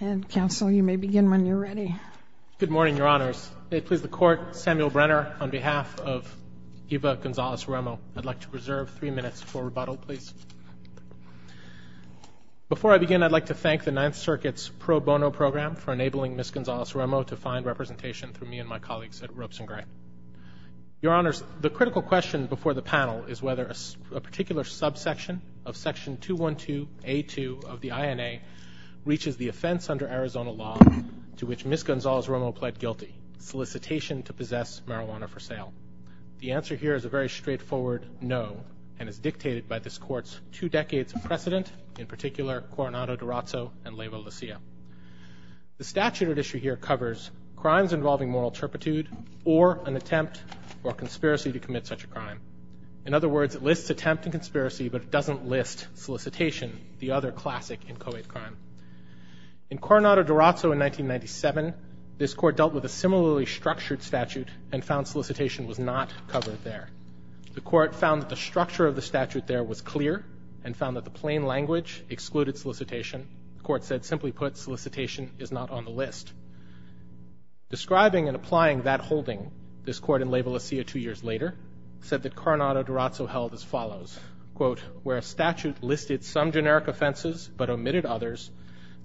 And, Counsel, you may begin when you're ready. Good morning, Your Honors. May it please the Court, Samuel Brenner, on behalf of Eva Gonzalez Romo, I'd like to reserve three minutes for rebuttal, please. Before I begin, I'd like to thank the Ninth Circuit's Pro Bono Program for enabling Ms. Gonzalez Romo to find representation through me and my colleagues at Ropes and Gray. Your Honors, the critical question before the panel is whether a particular subsection of Section 212A2 of the INA reaches the offense under Arizona law to which Ms. Gonzalez Romo pled guilty, solicitation to possess marijuana for sale. The answer here is a very straightforward no, and is dictated by this Court's two decades of precedent, in particular Coronado-Dorazzo and Leyva-La Silla. The statute at issue here covers crimes involving moral turpitude or an attempt or conspiracy to commit such a crime. In other words, it lists attempt and conspiracy, but it doesn't list solicitation, the other classic in co-ed crime. In Coronado-Dorazzo in 1997, this Court dealt with a similarly structured statute and found solicitation was not covered there. The Court found that the structure of the statute there was clear and found that the plain language excluded solicitation. The Court said, simply put, solicitation is not on the list. Describing and applying that holding, this Court in Leyva-La Silla two years later said that Coronado-Dorazzo held as follows, quote, where a statute listed some generic offenses but omitted others,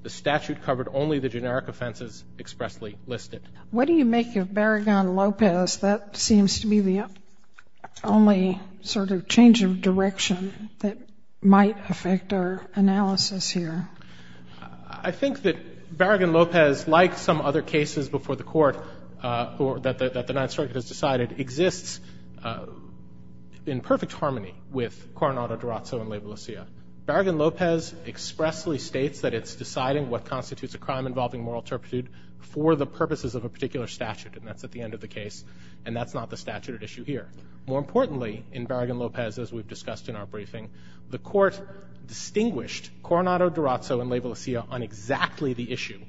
the statute covered only the generic offenses expressly listed. What do you make of Barragán-López? That seems to be the only sort of change of direction that might affect our analysis here. I think that Barragán-López, like some other cases before the Court or that the Ninth Circuit has decided, exists in perfect harmony with Coronado-Dorazzo in Leyva-La Silla. Barragán-López expressly states that it's deciding what constitutes a crime involving moral turpitude for the purposes of a particular statute, and that's at the end of the case, and that's not the statute at issue here. More importantly, in Barragán-López, as we've discussed in our briefing, the Court distinguished Coronado-Dorazzo in Leyva-La Silla on exactly the issue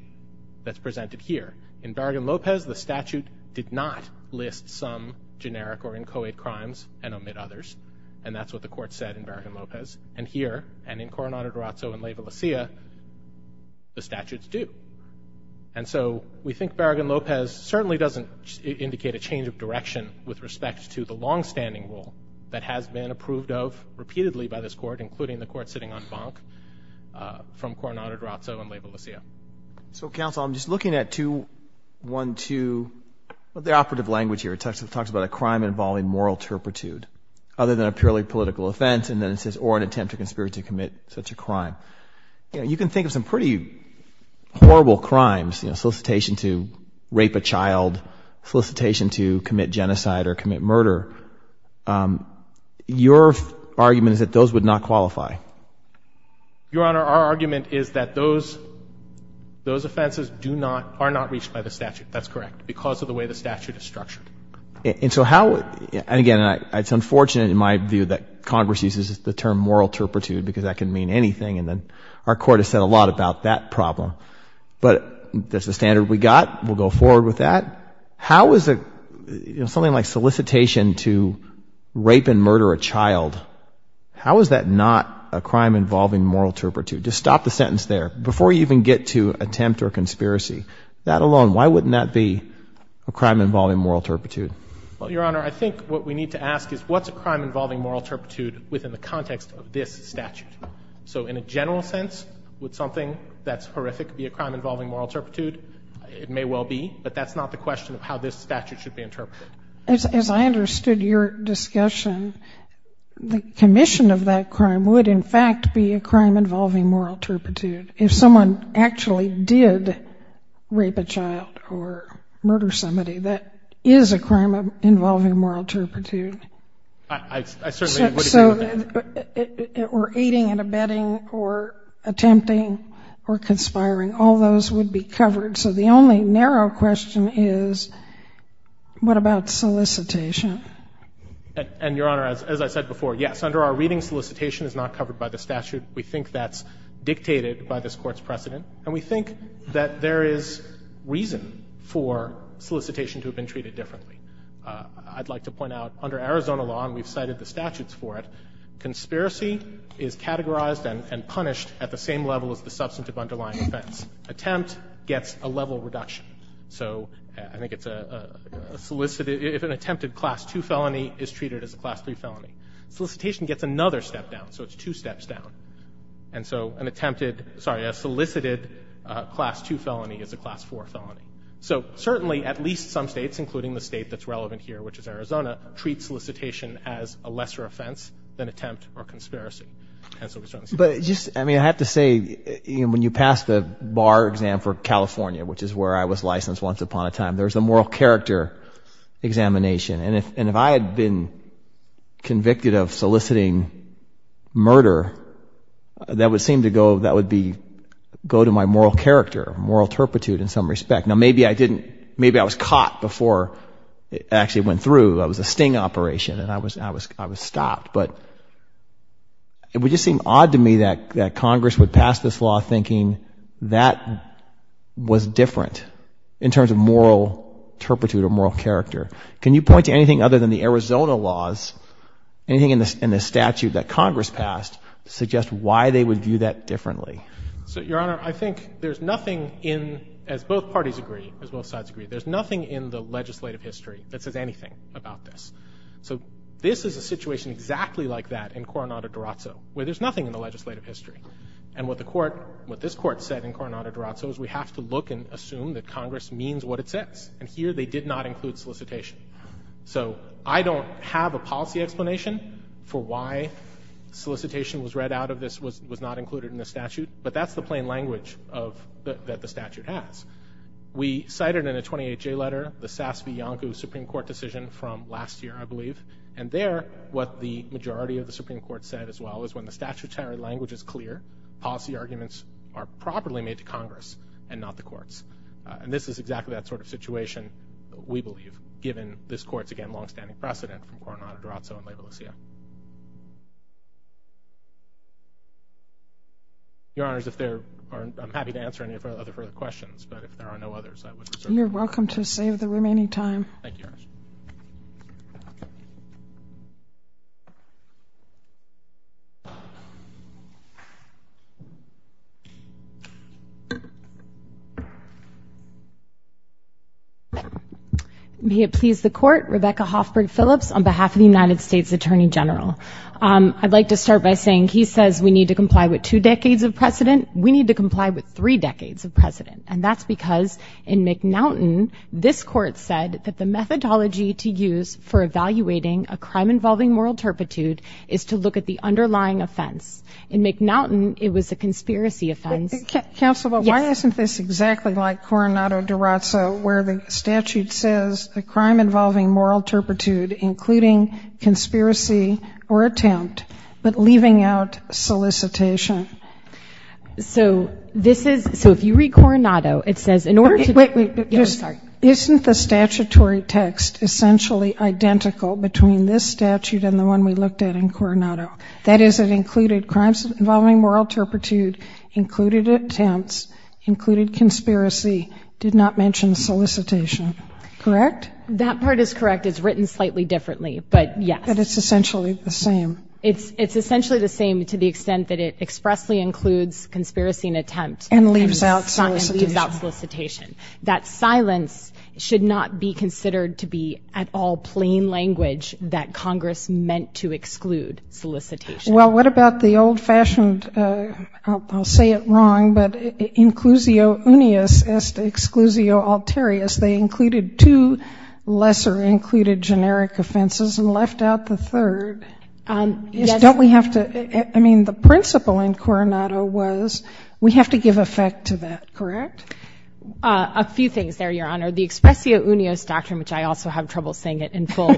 that's presented here. In Barragán-López, the statute did not list some generic or inchoate crimes and omit others, and that's what the Court said in Barragán-López. And here, and in Coronado-Dorazzo and Leyva-La Silla, the statutes do. And so we think Barragán-López certainly doesn't indicate a change of direction with respect to the longstanding rule that has been approved of repeatedly by this Court, including the Court sitting on Banque, from Coronado-Dorazzo and Leyva-La Silla. So, counsel, I'm just looking at 212, the operative language here. It talks about a crime involving moral turpitude, other than a purely political offense, and then it says, or an attempt to conspire to commit such a crime. You can think of some pretty horrible crimes, solicitation to rape a child, solicitation to commit genocide or commit murder. Your argument is that those would not qualify. Your Honor, our argument is that those offenses do not, are not reached by the statute. That's correct, because of the way the statute is structured. And so how, and again, it's unfortunate in my view that Congress uses the term moral turpitude because that can mean anything, and then our Court has said a lot about that problem. But that's the standard we got. We'll go forward with that. How is a, you know, something like solicitation to rape and murder a child, how is that not a crime involving moral turpitude? Just stop the sentence there. Before you even get to attempt or conspiracy, that alone, why wouldn't that be a crime involving moral turpitude? Well, Your Honor, I think what we need to ask is, what's a crime involving moral turpitude within the context of this statute? So in a general sense, would something that's horrific be a crime involving moral turpitude? It may well be, but that's not the question of how this statute should be interpreted. As I understood your discussion, the commission of that crime would, in fact, be a crime involving moral turpitude. If someone actually did rape a child or murder somebody, that is a crime involving moral turpitude. I certainly would agree with that. Or aiding and abetting or attempting or conspiring, all those would be covered. So the only narrow question is, what about solicitation? And, Your Honor, as I said before, yes, under our reading, solicitation is not covered by the statute. We think that's dictated by this Court's precedent, and we think that there is reason for solicitation to have been treated differently. I'd like to point out, under Arizona law, and we've cited the statutes for it, conspiracy is categorized and punished at the same level as the substantive underlying offense. Attempt gets a level reduction. So I think it's a solicited – if an attempted Class 2 felony is treated as a Class 3 felony. Solicitation gets another step down, so it's two steps down. And so an attempted – sorry, a solicited Class 2 felony is a Class 4 felony. So certainly at least some states, including the state that's relevant here, which is Arizona, treat solicitation as a lesser offense than attempt or conspiracy. But just – I mean, I have to say, when you pass the bar exam for California, which is where I was licensed once upon a time, there's a moral character examination. And if I had been convicted of soliciting murder, that would seem to go – that would be – go to my moral character, moral turpitude in some respect. Now, maybe I didn't – maybe I was caught before it actually went through. I was a sting operation, and I was stopped. But it would just seem odd to me that Congress would pass this law thinking that was different in terms of moral turpitude or moral character. Can you point to anything other than the Arizona laws, anything in the statute that Congress passed, to suggest why they would view that differently? So, Your Honor, I think there's nothing in – as both parties agree, as both sides agree, there's nothing in the legislative history that says anything about this. So this is a situation exactly like that in Coronado-Dorazzo, where there's nothing in the legislative history. And what the Court – what this Court said in Coronado-Dorazzo is we have to look and assume that Congress means what it says. And here they did not include solicitation. So I don't have a policy explanation for why solicitation was read out of this, was not included in the statute, but that's the plain language of – that the statute has. We cited in a 28-J letter the Sasse v. Iancu Supreme Court decision from last year, I believe. And there, what the majority of the Supreme Court said as well, is when the statutory language is clear, policy arguments are properly made to Congress and not the courts. And this is exactly that sort of situation, we believe, given this Court's, again, longstanding precedent from Coronado-Dorazzo and La Valencia. Your Honors, if there are – I'm happy to answer any of our other further questions, but if there are no others, I would reserve the floor. You're welcome to save the remaining time. Thank you, Your Honors. May it please the Court, Rebecca Hoffberg Phillips, on behalf of the United States Attorney General. I'd like to start by saying he says we need to comply with two decades of precedent. We need to comply with three decades of precedent. And that's because in McNaughton, this Court said that the methodology to use for evaluating a crime involving moral turpitude is to look at the underlying offense. In McNaughton, it was a conspiracy offense. Counsel, why isn't this exactly like Coronado-Dorazzo, where the statute says the crime involving moral turpitude, including conspiracy or attempt, but leaving out solicitation? So this is – so if you read Coronado, it says in order to – Wait, wait. I'm sorry. Isn't the statutory text essentially identical between this statute and the one we looked at in Coronado? That is, it included crimes involving moral turpitude, included attempts, included conspiracy, did not mention solicitation, correct? That part is correct. It's written slightly differently, but yes. But it's essentially the same. It's essentially the same to the extent that it expressly includes conspiracy and attempt and leaves out solicitation. That silence should not be considered to be at all plain language that Congress meant to exclude solicitation. Well, what about the old-fashioned – I'll say it wrong, but inclusio unius est exclusio alterius. They included two lesser included generic offenses and left out the third. Yes. Don't we have to – I mean, the principle in Coronado was we have to give effect to that, correct? A few things there, Your Honor. The expressio unius doctrine, which I also have trouble saying it in full,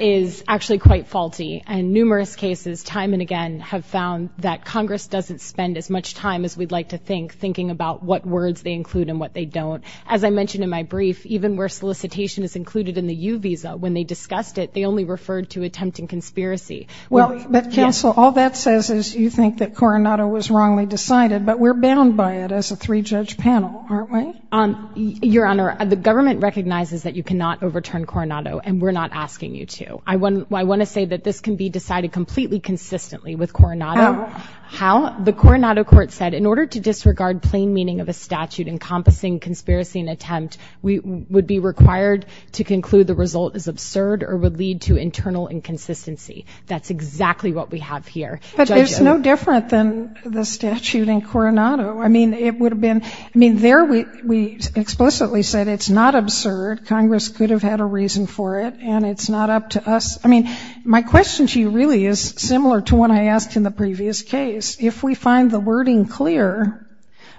is actually quite faulty. And numerous cases time and again have found that Congress doesn't spend as much time as we'd like to think thinking about what words they include and what they don't. As I mentioned in my brief, even where solicitation is included in the U visa, when they discussed it, they only referred to attempt and conspiracy. But, Counsel, all that says is you think that Coronado was wrongly decided, but we're bound by it as a three-judge panel, aren't we? Your Honor, the government recognizes that you cannot overturn Coronado, and we're not asking you to. I want to say that this can be decided completely consistently with Coronado. How? The Coronado court said in order to disregard plain meaning of a statute encompassing conspiracy and attempt, we would be required to conclude the result is absurd or would lead to internal inconsistency. That's exactly what we have here. But there's no different than the statute in Coronado. I mean, it would have been – I mean, there we explicitly said it's not absurd, Congress could have had a reason for it, and it's not up to us. I mean, my question to you really is similar to what I asked in the previous case. If we find the wording clear,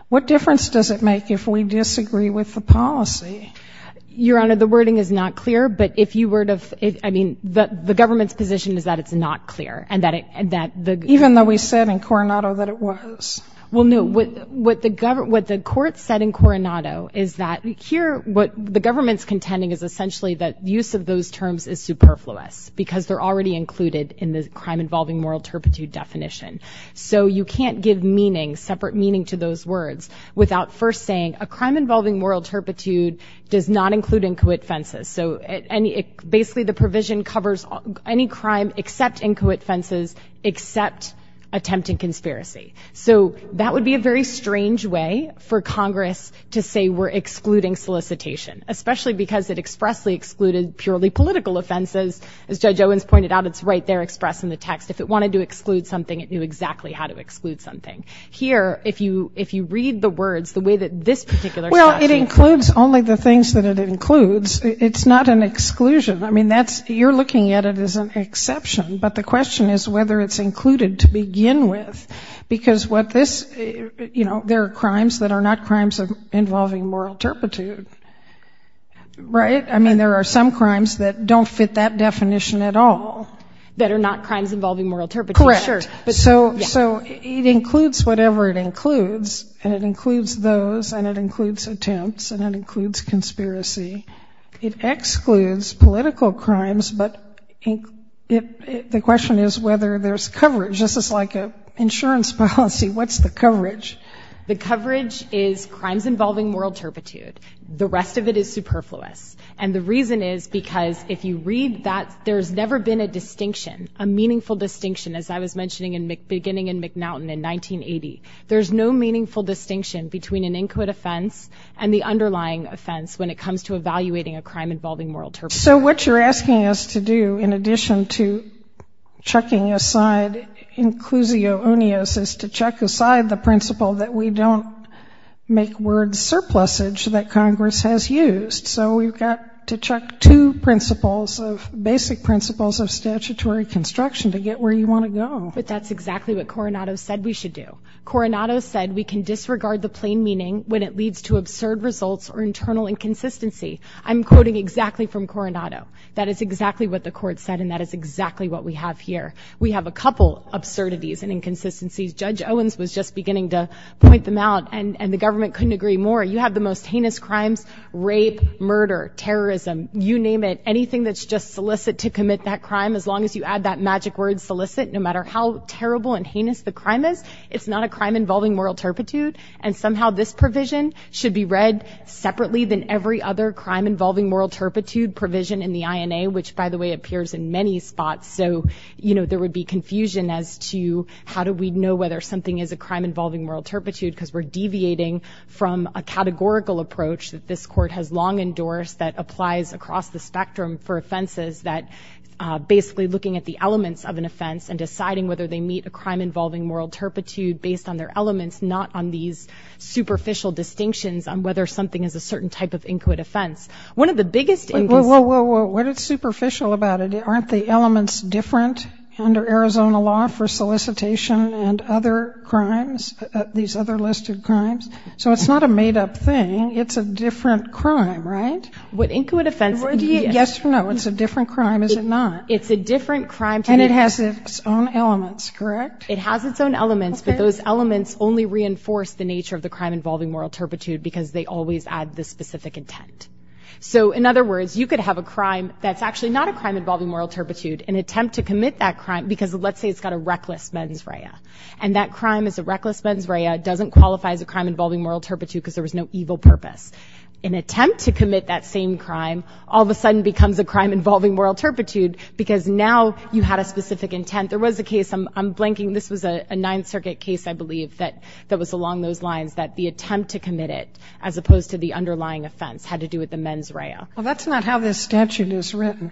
what difference does it make if we disagree with the policy? Your Honor, the wording is not clear, but if you were to – I mean, the government's position is that it's not clear and that the – Even though we said in Coronado that it was. Well, no, what the court said in Coronado is that here what the government's contending is essentially that use of those terms is superfluous because they're already included in the crime-involving moral turpitude definition. So you can't give meaning, separate meaning to those words without first saying a crime-involving moral turpitude does not include incoit offenses. So basically the provision covers any crime except incoit offenses, except attempt and conspiracy. So that would be a very strange way for Congress to say we're excluding solicitation, especially because it expressly excluded purely political offenses. As Judge Owens pointed out, it's right there expressed in the text. If it wanted to exclude something, it knew exactly how to exclude something. Here, if you read the words, the way that this particular statute – Well, it includes only the things that it includes. It's not an exclusion. I mean, that's – you're looking at it as an exception, but the question is whether it's included to begin with because what this – there are crimes that are not crimes involving moral turpitude, right? I mean, there are some crimes that don't fit that definition at all. That are not crimes involving moral turpitude. Correct. So it includes whatever it includes, and it includes those, and it includes attempts, and it includes conspiracy. It excludes political crimes, but the question is whether there's coverage. This is like an insurance policy. What's the coverage? The coverage is crimes involving moral turpitude. The rest of it is superfluous, and the reason is because if you read that, there's never been a distinction, a meaningful distinction, as I was mentioning beginning in McNaughton in 1980. There's no meaningful distinction between an inquit offense and the underlying offense when it comes to evaluating a crime involving moral turpitude. So what you're asking us to do, in addition to chucking aside inclusio unios, is to chuck aside the principle that we don't make words surplusage that Congress has used. So we've got to chuck two principles, basic principles of statutory construction to get where you want to go. But that's exactly what Coronado said we should do. Coronado said we can disregard the plain meaning when it leads to absurd results or internal inconsistency. I'm quoting exactly from Coronado. That is exactly what the court said, and that is exactly what we have here. We have a couple absurdities and inconsistencies. Judge Owens was just beginning to point them out, and the government couldn't agree more. You have the most heinous crimes, rape, murder, terrorism, you name it, anything that's just solicit to commit that crime, as long as you add that magic word solicit, no matter how terrible and heinous the crime is, it's not a crime involving moral turpitude. And somehow this provision should be read separately than every other crime involving moral turpitude provision in the INA, which, by the way, appears in many spots. So, you know, there would be confusion as to how do we know whether something is a crime involving moral turpitude, because we're deviating from a categorical approach that this court has long endorsed that applies across the spectrum for offenses, that basically looking at the elements of an offense and deciding whether they meet a crime involving moral turpitude based on their elements, not on these superficial distinctions on whether something is a certain type of inquit offense. One of the biggest inconsistencies. Oh, whoa, whoa, what is superficial about it? Aren't the elements different under Arizona law for solicitation and other crimes, these other listed crimes? So it's not a made-up thing. It's a different crime, right? What inquit offense? Yes or no, it's a different crime, is it not? It's a different crime. And it has its own elements, correct? It has its own elements, but those elements only reinforce the nature of the crime involving moral turpitude because they always add the specific intent. So, in other words, you could have a crime that's actually not a crime involving moral turpitude and attempt to commit that crime because, let's say it's got a reckless mens rea, and that crime is a reckless mens rea, doesn't qualify as a crime involving moral turpitude because there was no evil purpose. An attempt to commit that same crime all of a sudden becomes a crime involving moral turpitude because now you had a specific intent. There was a case, I'm blanking, this was a Ninth Circuit case, I believe, that was along those lines, that the attempt to commit it as opposed to the underlying offense had to do with the mens rea. Well, that's not how this statute is written.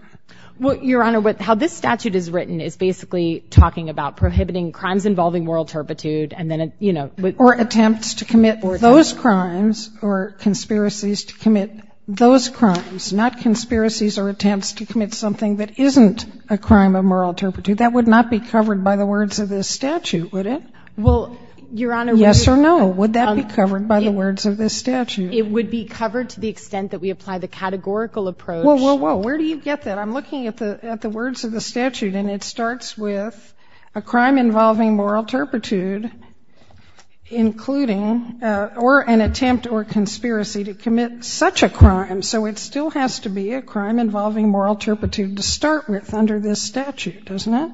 Well, Your Honor, how this statute is written is basically talking about prohibiting crimes involving moral turpitude and then, you know, Or attempts to commit those crimes or conspiracies to commit those crimes, not conspiracies or attempts to commit something that isn't a crime of moral turpitude. That would not be covered by the words of this statute, would it? Well, Your Honor, Yes or no, would that be covered by the words of this statute? It would be covered to the extent that we apply the categorical approach. Whoa, whoa, whoa. Where do you get that? I'm looking at the words of the statute, and it starts with a crime involving moral turpitude, including, or an attempt or conspiracy to commit such a crime. So it still has to be a crime involving moral turpitude to start with under this statute, doesn't it?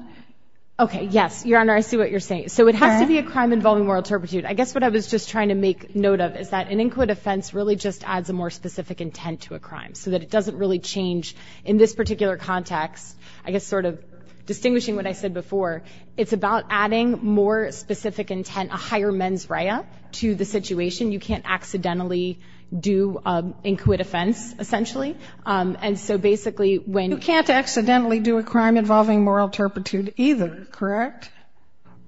Okay, yes, Your Honor, I see what you're saying. So it has to be a crime involving moral turpitude. I guess what I was just trying to make note of is that an inquit offense really just adds a more specific intent to a crime so that it doesn't really change. In this particular context, I guess sort of distinguishing what I said before, it's about adding more specific intent, a higher mens rea to the situation. You can't accidentally do an inquit offense, essentially. And so basically when you can't accidentally do a crime involving moral turpitude either, correct?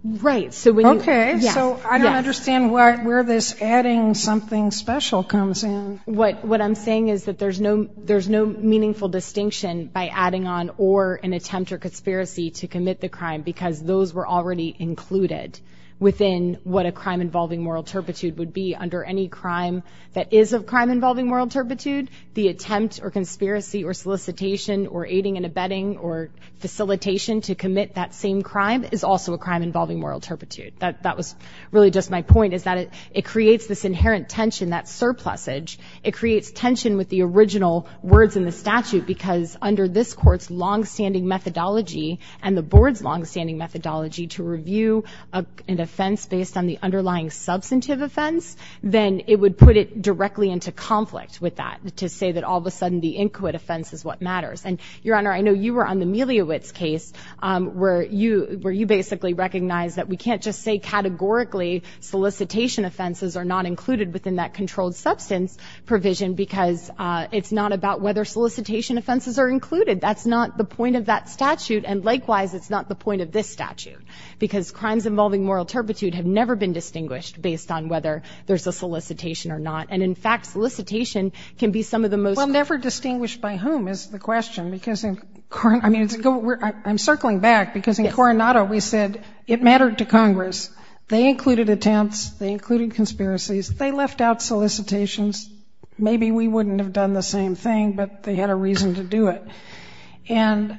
Right. Okay, so I don't understand where this adding something special comes in. What I'm saying is that there's no meaningful distinction by adding on or an attempt or conspiracy to commit the crime because those were already included within what a crime involving moral turpitude would be. Under any crime that is a crime involving moral turpitude, the attempt or conspiracy or solicitation or aiding and abetting or facilitation to commit that same crime is also a crime involving moral turpitude. That was really just my point is that it creates this inherent tension, that surplusage. It creates tension with the original words in the statute because under this court's longstanding methodology and the board's longstanding methodology to review an offense based on the underlying substantive offense, then it would put it directly into conflict with that to say that all of a sudden the inquit offense is what matters. And, Your Honor, I know you were on the Meliewicz case where you basically recognized that we can't just say categorically solicitation offenses are not included within that controlled substance provision because it's not about whether solicitation offenses are included. That's not the point of that statute. And likewise, it's not the point of this statute because crimes involving moral turpitude have never been distinguished based on whether there's a solicitation or not. And, in fact, solicitation can be some of the most. Well, never distinguished by whom is the question. I'm circling back because in Coronado we said it mattered to Congress. They included attempts. They included conspiracies. They left out solicitations. Maybe we wouldn't have done the same thing, but they had a reason to do it. And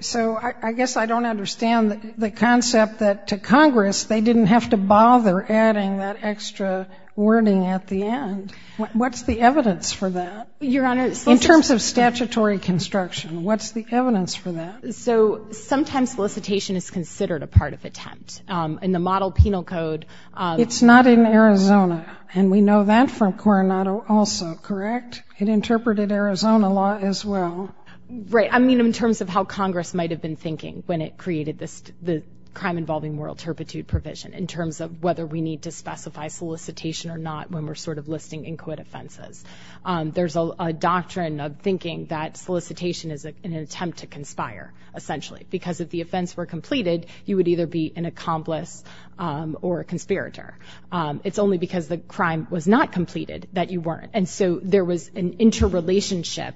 so I guess I don't understand the concept that to Congress they didn't have to bother adding that extra wording at the end. What's the evidence for that? Your Honor, solicitation. In terms of statutory construction, what's the evidence for that? So sometimes solicitation is considered a part of attempt. In the model penal code. It's not in Arizona, and we know that from Coronado also, correct? It interpreted Arizona law as well. Right. I mean in terms of how Congress might have been thinking when it created this crime involving moral turpitude provision in terms of whether we need to specify solicitation or not when we're sort of listing inquit offenses. There's a doctrine of thinking that solicitation is an attempt to conspire, essentially, because if the offense were completed, you would either be an accomplice or a conspirator. It's only because the crime was not completed that you weren't. And so there was an interrelationship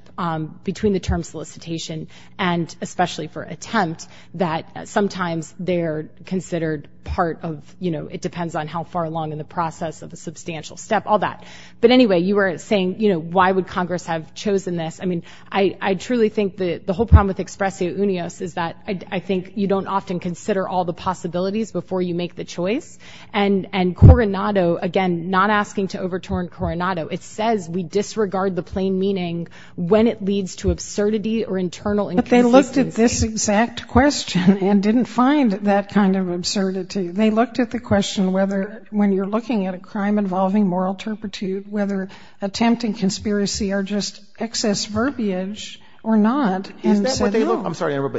between the term solicitation and, especially for attempt, that sometimes they're considered part of, you know, it depends on how far along in the process of a substantial step, all that. But anyway, you were saying, you know, why would Congress have chosen this? I mean, I truly think the whole problem with expressio unios is that I think you don't often consider all the possibilities before you make the choice. And Coronado, again, not asking to overturn Coronado, it says we disregard the plain meaning when it leads to absurdity or internal inconsistency. But they looked at this exact question and didn't find that kind of absurdity. They looked at the question whether, when you're looking at a crime involving moral turpitude, whether attempt and conspiracy are just excess verbiage or not, and said no.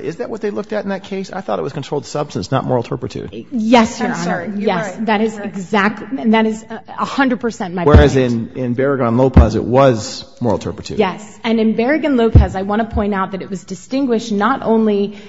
Is that what they looked at in that case? I thought it was controlled substance, not moral turpitude. Yes, Your Honor. I'm sorry. You're right. Yes, that is exactly, that is 100 percent my point. Whereas in Berrigan-Lopez, it was moral turpitude. Yes. And in Berrigan-Lopez, I want to point out that it was distinguished not only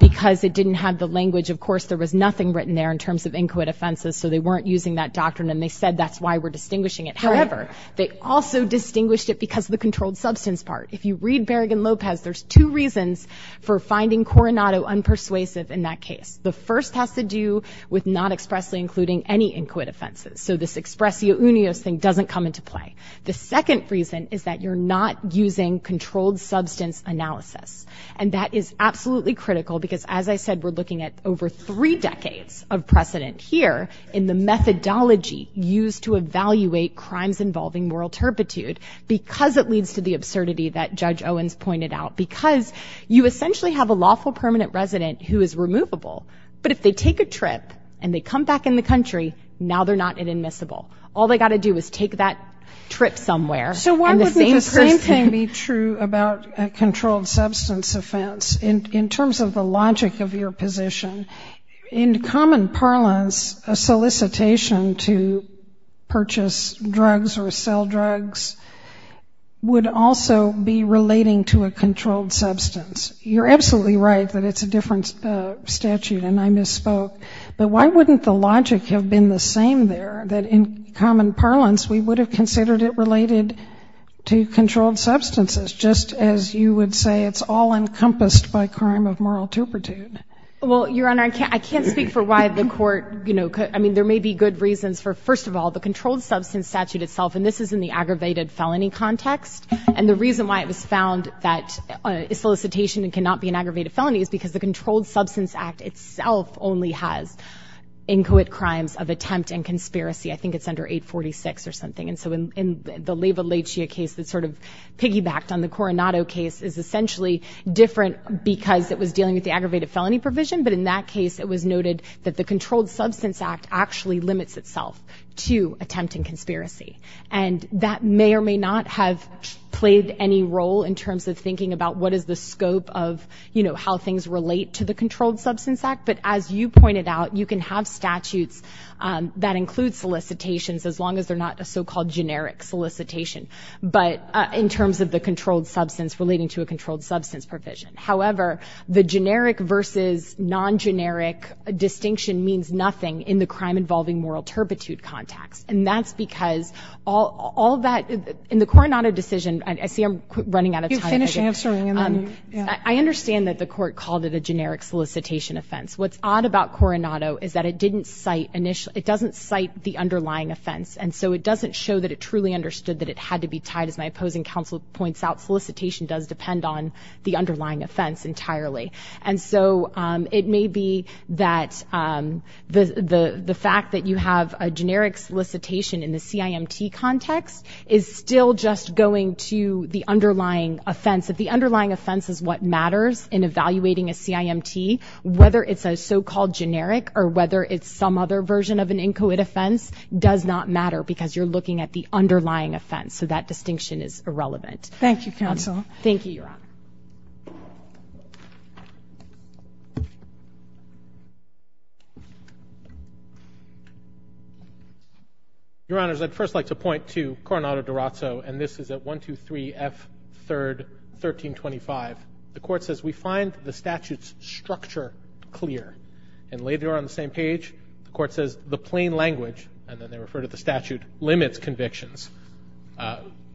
because it didn't have the language. Of course, there was nothing written there in terms of inquit offenses, so they weren't using that doctrine. And they said that's why we're distinguishing it. However, they also distinguished it because of the controlled substance part. If you read Berrigan-Lopez, there's two reasons for finding Coronado unpersuasive in that case. The first has to do with not expressly including any inquit offenses. So this expressio unios thing doesn't come into play. The second reason is that you're not using controlled substance analysis. And that is absolutely critical because, as I said, we're looking at over three decades of precedent here in the methodology used to evaluate crimes involving moral turpitude because it leads to the absurdity that Judge Owens pointed out. Because you essentially have a lawful permanent resident who is removable, but if they take a trip and they come back in the country, now they're not inadmissible. All they've got to do is take that trip somewhere. So why wouldn't the same thing be true about a controlled substance offense in terms of the logic of your position? In common parlance, a solicitation to purchase drugs or sell drugs would also be relating to a controlled substance. You're absolutely right that it's a different statute, and I misspoke. But why wouldn't the logic have been the same there, that in common parlance we would have considered it related to controlled substances, just as you would say it's all encompassed by crime of moral turpitude? Well, Your Honor, I can't speak for why the Court, you know, could. I mean, there may be good reasons for, first of all, the controlled substance statute itself, and this is in the aggravated felony context. And the reason why it was found that a solicitation cannot be an aggravated felony is because the Controlled Substance Act itself only has inquit crimes of attempt and conspiracy. I think it's under 846 or something. And so in the Leyva-Leitchia case that sort of piggybacked on the Coronado case is essentially different because it was dealing with the aggravated felony provision, but in that case it was noted that the Controlled Substance Act actually limits itself to attempt and conspiracy. And that may or may not have played any role in terms of thinking about what is the scope of, you know, how things relate to the Controlled Substance Act. But as you pointed out, you can have statutes that include solicitations as long as they're not a so-called generic solicitation, but in terms of the controlled substance relating to a controlled substance provision. However, the generic versus non-generic distinction means nothing in the crime-involving moral turpitude context. And that's because all that – in the Coronado decision – I see I'm running out of time. You finish answering, and then, yeah. I understand that the court called it a generic solicitation offense. What's odd about Coronado is that it didn't cite – it doesn't cite the underlying offense. And so it doesn't show that it truly understood that it had to be tied. As my opposing counsel points out, solicitation does depend on the underlying offense entirely. And so it may be that the fact that you have a generic solicitation in the CIMT context is still just going to the underlying offense. If the underlying offense is what matters in evaluating a CIMT, whether it's a so-called generic or whether it's some other version of an incoit offense does not matter because you're looking at the underlying offense. So that distinction is irrelevant. Thank you, Your Honor. Your Honors, I'd first like to point to Coronado-Durazzo, and this is at 123 F. 3rd, 1325. The court says, we find the statute's structure clear. And later on the same page, the court says, the plain language – and then they refer to the statute – limits convictions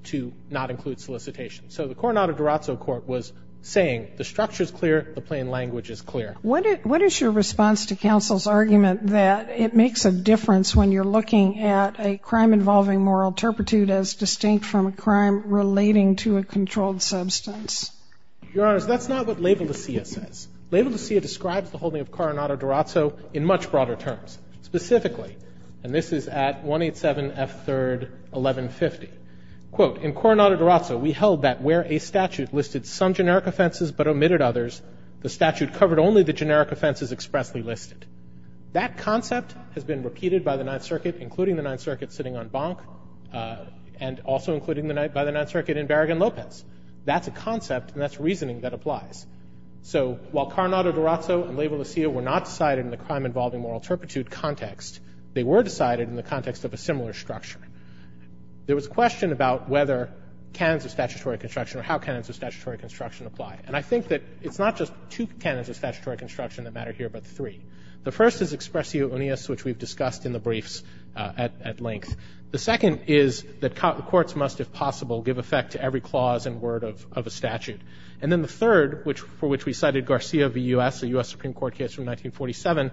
to not include solicitation. So the Coronado-Durazzo court was saying the structure's clear, the plain language is clear. What is your response to counsel's argument that it makes a difference when you're looking at a crime involving moral turpitude as distinct from a crime relating to a controlled substance? Your Honors, that's not what Labelecia says. Labelecia describes the holding of Coronado-Durazzo in much broader terms. Specifically, and this is at 187 F. 3rd, 1150, quote, In Coronado-Durazzo, we held that where a statute listed some generic offenses but omitted others, the statute covered only the generic offenses expressly listed. That concept has been repeated by the Ninth Circuit, including the Ninth Circuit sitting on Bank, and also including by the Ninth Circuit in Barragan-Lopez. That's a concept, and that's reasoning that applies. So while Coronado-Durazzo and Labelecia were not decided in the crime involving moral turpitude context, they were decided in the context of a similar structure. There was a question about whether canons of statutory construction or how canons of statutory construction apply. And I think that it's not just two canons of statutory construction that matter here, but three. The first is expressio uneus, which we've discussed in the briefs at length. The second is that courts must, if possible, give effect to every clause and word of a statute. And then the third, for which we cited Garcia v. U.S., a U.S. Supreme Court case from 1947,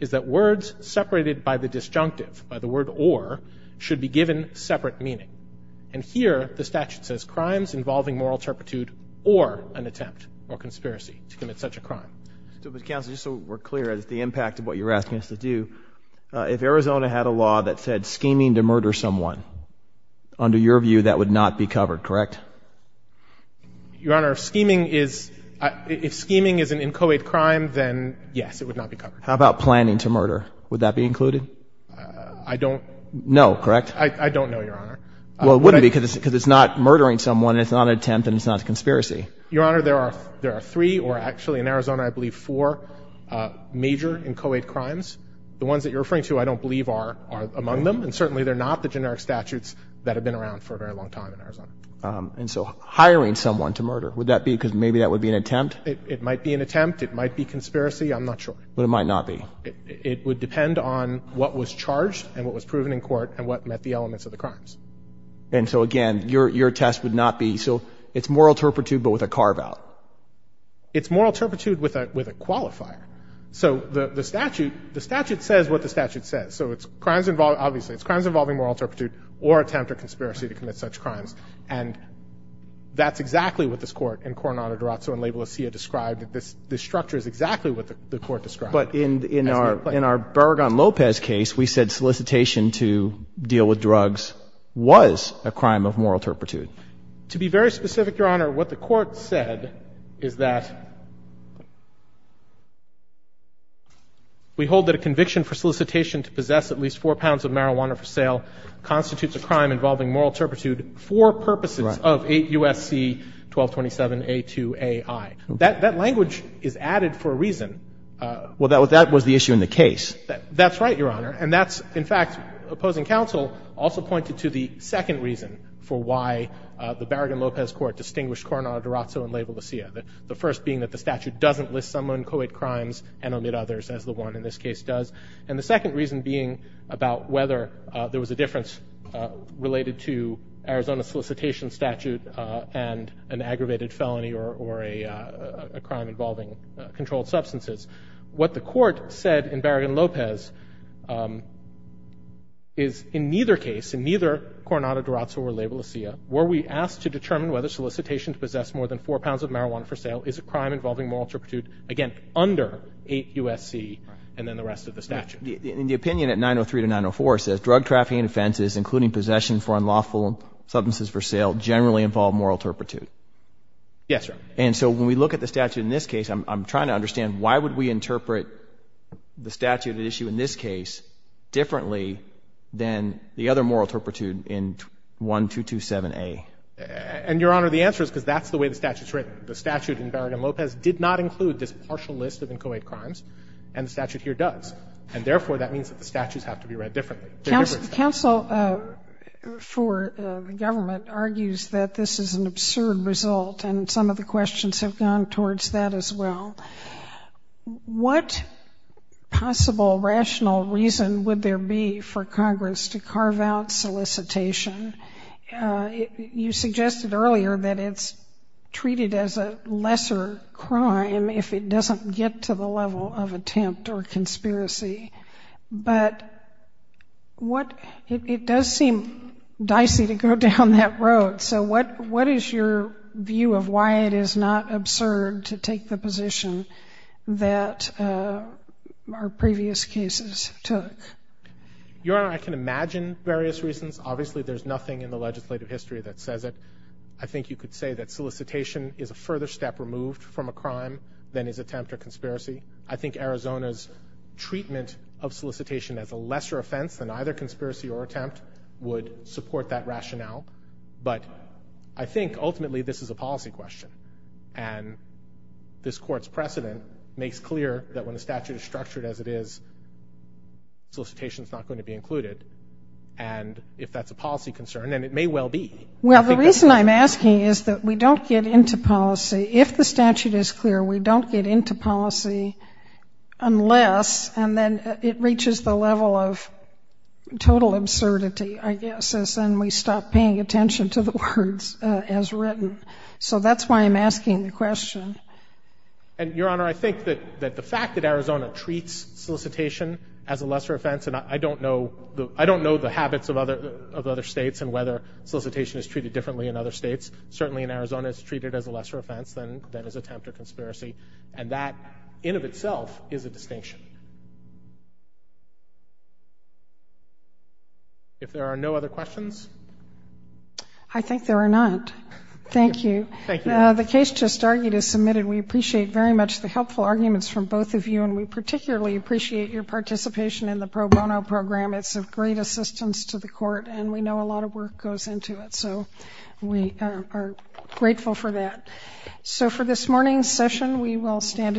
is that words separated by the disjunctive, by the word or, should be given separate meaning. And here the statute says crimes involving moral turpitude or an attempt or conspiracy to commit such a crime. But, counsel, just so we're clear, the impact of what you're asking us to do, if Arizona had a law that said scheming to murder someone, under your view that would not be covered, correct? Your Honor, if scheming is an inchoate crime, then yes, it would not be covered. How about planning to murder? Would that be included? I don't know. No, correct? I don't know, Your Honor. Well, it wouldn't be because it's not murdering someone and it's not an attempt and it's not a conspiracy. Your Honor, there are three, or actually in Arizona, I believe, four major inchoate crimes. The ones that you're referring to, I don't believe, are among them. And certainly they're not the generic statutes that have been around for a very long time in Arizona. And so hiring someone to murder, would that be because maybe that would be an attempt? It might be an attempt. It might be conspiracy. I'm not sure. But it might not be. It would depend on what was charged and what was proven in court and what met the elements of the crimes. And so, again, your test would not be, so it's moral turpitude but with a carve-out. It's moral turpitude with a qualifier. So the statute says what the statute says. So it's crimes involving, obviously, it's crimes involving moral turpitude or attempt or conspiracy to commit such crimes. And that's exactly what this Court in Coronado-Durazzo and La Bolasilla described, this structure is exactly what the Court described. But in our Barragán-López case, we said solicitation to deal with drugs was a crime of moral turpitude. To be very specific, Your Honor, what the Court said is that we hold that a conviction for solicitation to possess at least four pounds of marijuana for sale constitutes a crime involving moral turpitude for purposes of 8 U.S.C. 1227A2AI. That language is added for a reason. Well, that was the issue in the case. That's right, Your Honor. And that's, in fact, opposing counsel also pointed to the second reason for why the Barragán-López Court distinguished Coronado-Durazzo and La Bolasilla. The first being that the statute doesn't list someone co-ed crimes and omit others, as the one in this case does. And the second reason being about whether there was a difference related to Arizona's solicitation statute and an aggravated felony or a crime involving controlled substances. What the Court said in Barragán-López is in neither case, in neither Coronado-Durazzo or La Bolasilla, were we asked to determine whether solicitation to possess more than four pounds of marijuana for sale is a crime involving moral turpitude, again, under 8 U.S.C. and then the rest of the statute. In the opinion at 903 to 904, it says, drug trafficking offenses, including possession for unlawful substances for sale, generally involve moral turpitude. Yes, sir. And so when we look at the statute in this case, I'm trying to understand why would we interpret the statute at issue in this case differently than the other moral turpitude in 1227A? And, Your Honor, the answer is because that's the way the statute is written. The statute in Barragán-López did not include this partial list of co-ed crimes, and the statute here does. And therefore, that means that the statutes have to be read differently. Counsel for the government argues that this is an absurd result and some of the questions have gone towards that as well. What possible rational reason would there be for Congress to carve out solicitation? You suggested earlier that it's treated as a lesser crime if it doesn't get to the level of attempt or conspiracy. But it does seem dicey to go down that road. So what is your view of why it is not absurd to take the position that our previous cases took? Your Honor, I can imagine various reasons. Obviously, there's nothing in the legislative history that says it. I think you could say that solicitation is a further step removed from a crime than is attempt or conspiracy. I think Arizona's treatment of solicitation as a lesser offense than either conspiracy or attempt would support that rationale. But I think ultimately this is a policy question, and this Court's precedent makes clear that when the statute is structured as it is, solicitation is not going to be included. And if that's a policy concern, then it may well be. Well, the reason I'm asking is that we don't get into policy. If the statute is clear, we don't get into policy unless, and then it reaches the level of total absurdity, I guess, as in we stop paying attention to the words as written. So that's why I'm asking the question. Your Honor, I think that the fact that Arizona treats solicitation as a lesser offense, and I don't know the habits of other states and whether solicitation is treated differently in other states, certainly in Arizona it's treated as a lesser offense than is attempt or conspiracy. And that in of itself is a distinction. If there are no other questions. I think there are not. Thank you. Thank you. The case just argued is submitted. We appreciate very much the helpful arguments from both of you, and we particularly appreciate your participation in the pro bono program. It's of great assistance to the Court, and we know a lot of work goes into it. So we are grateful for that. So for this morning's session, we will stand adjourned.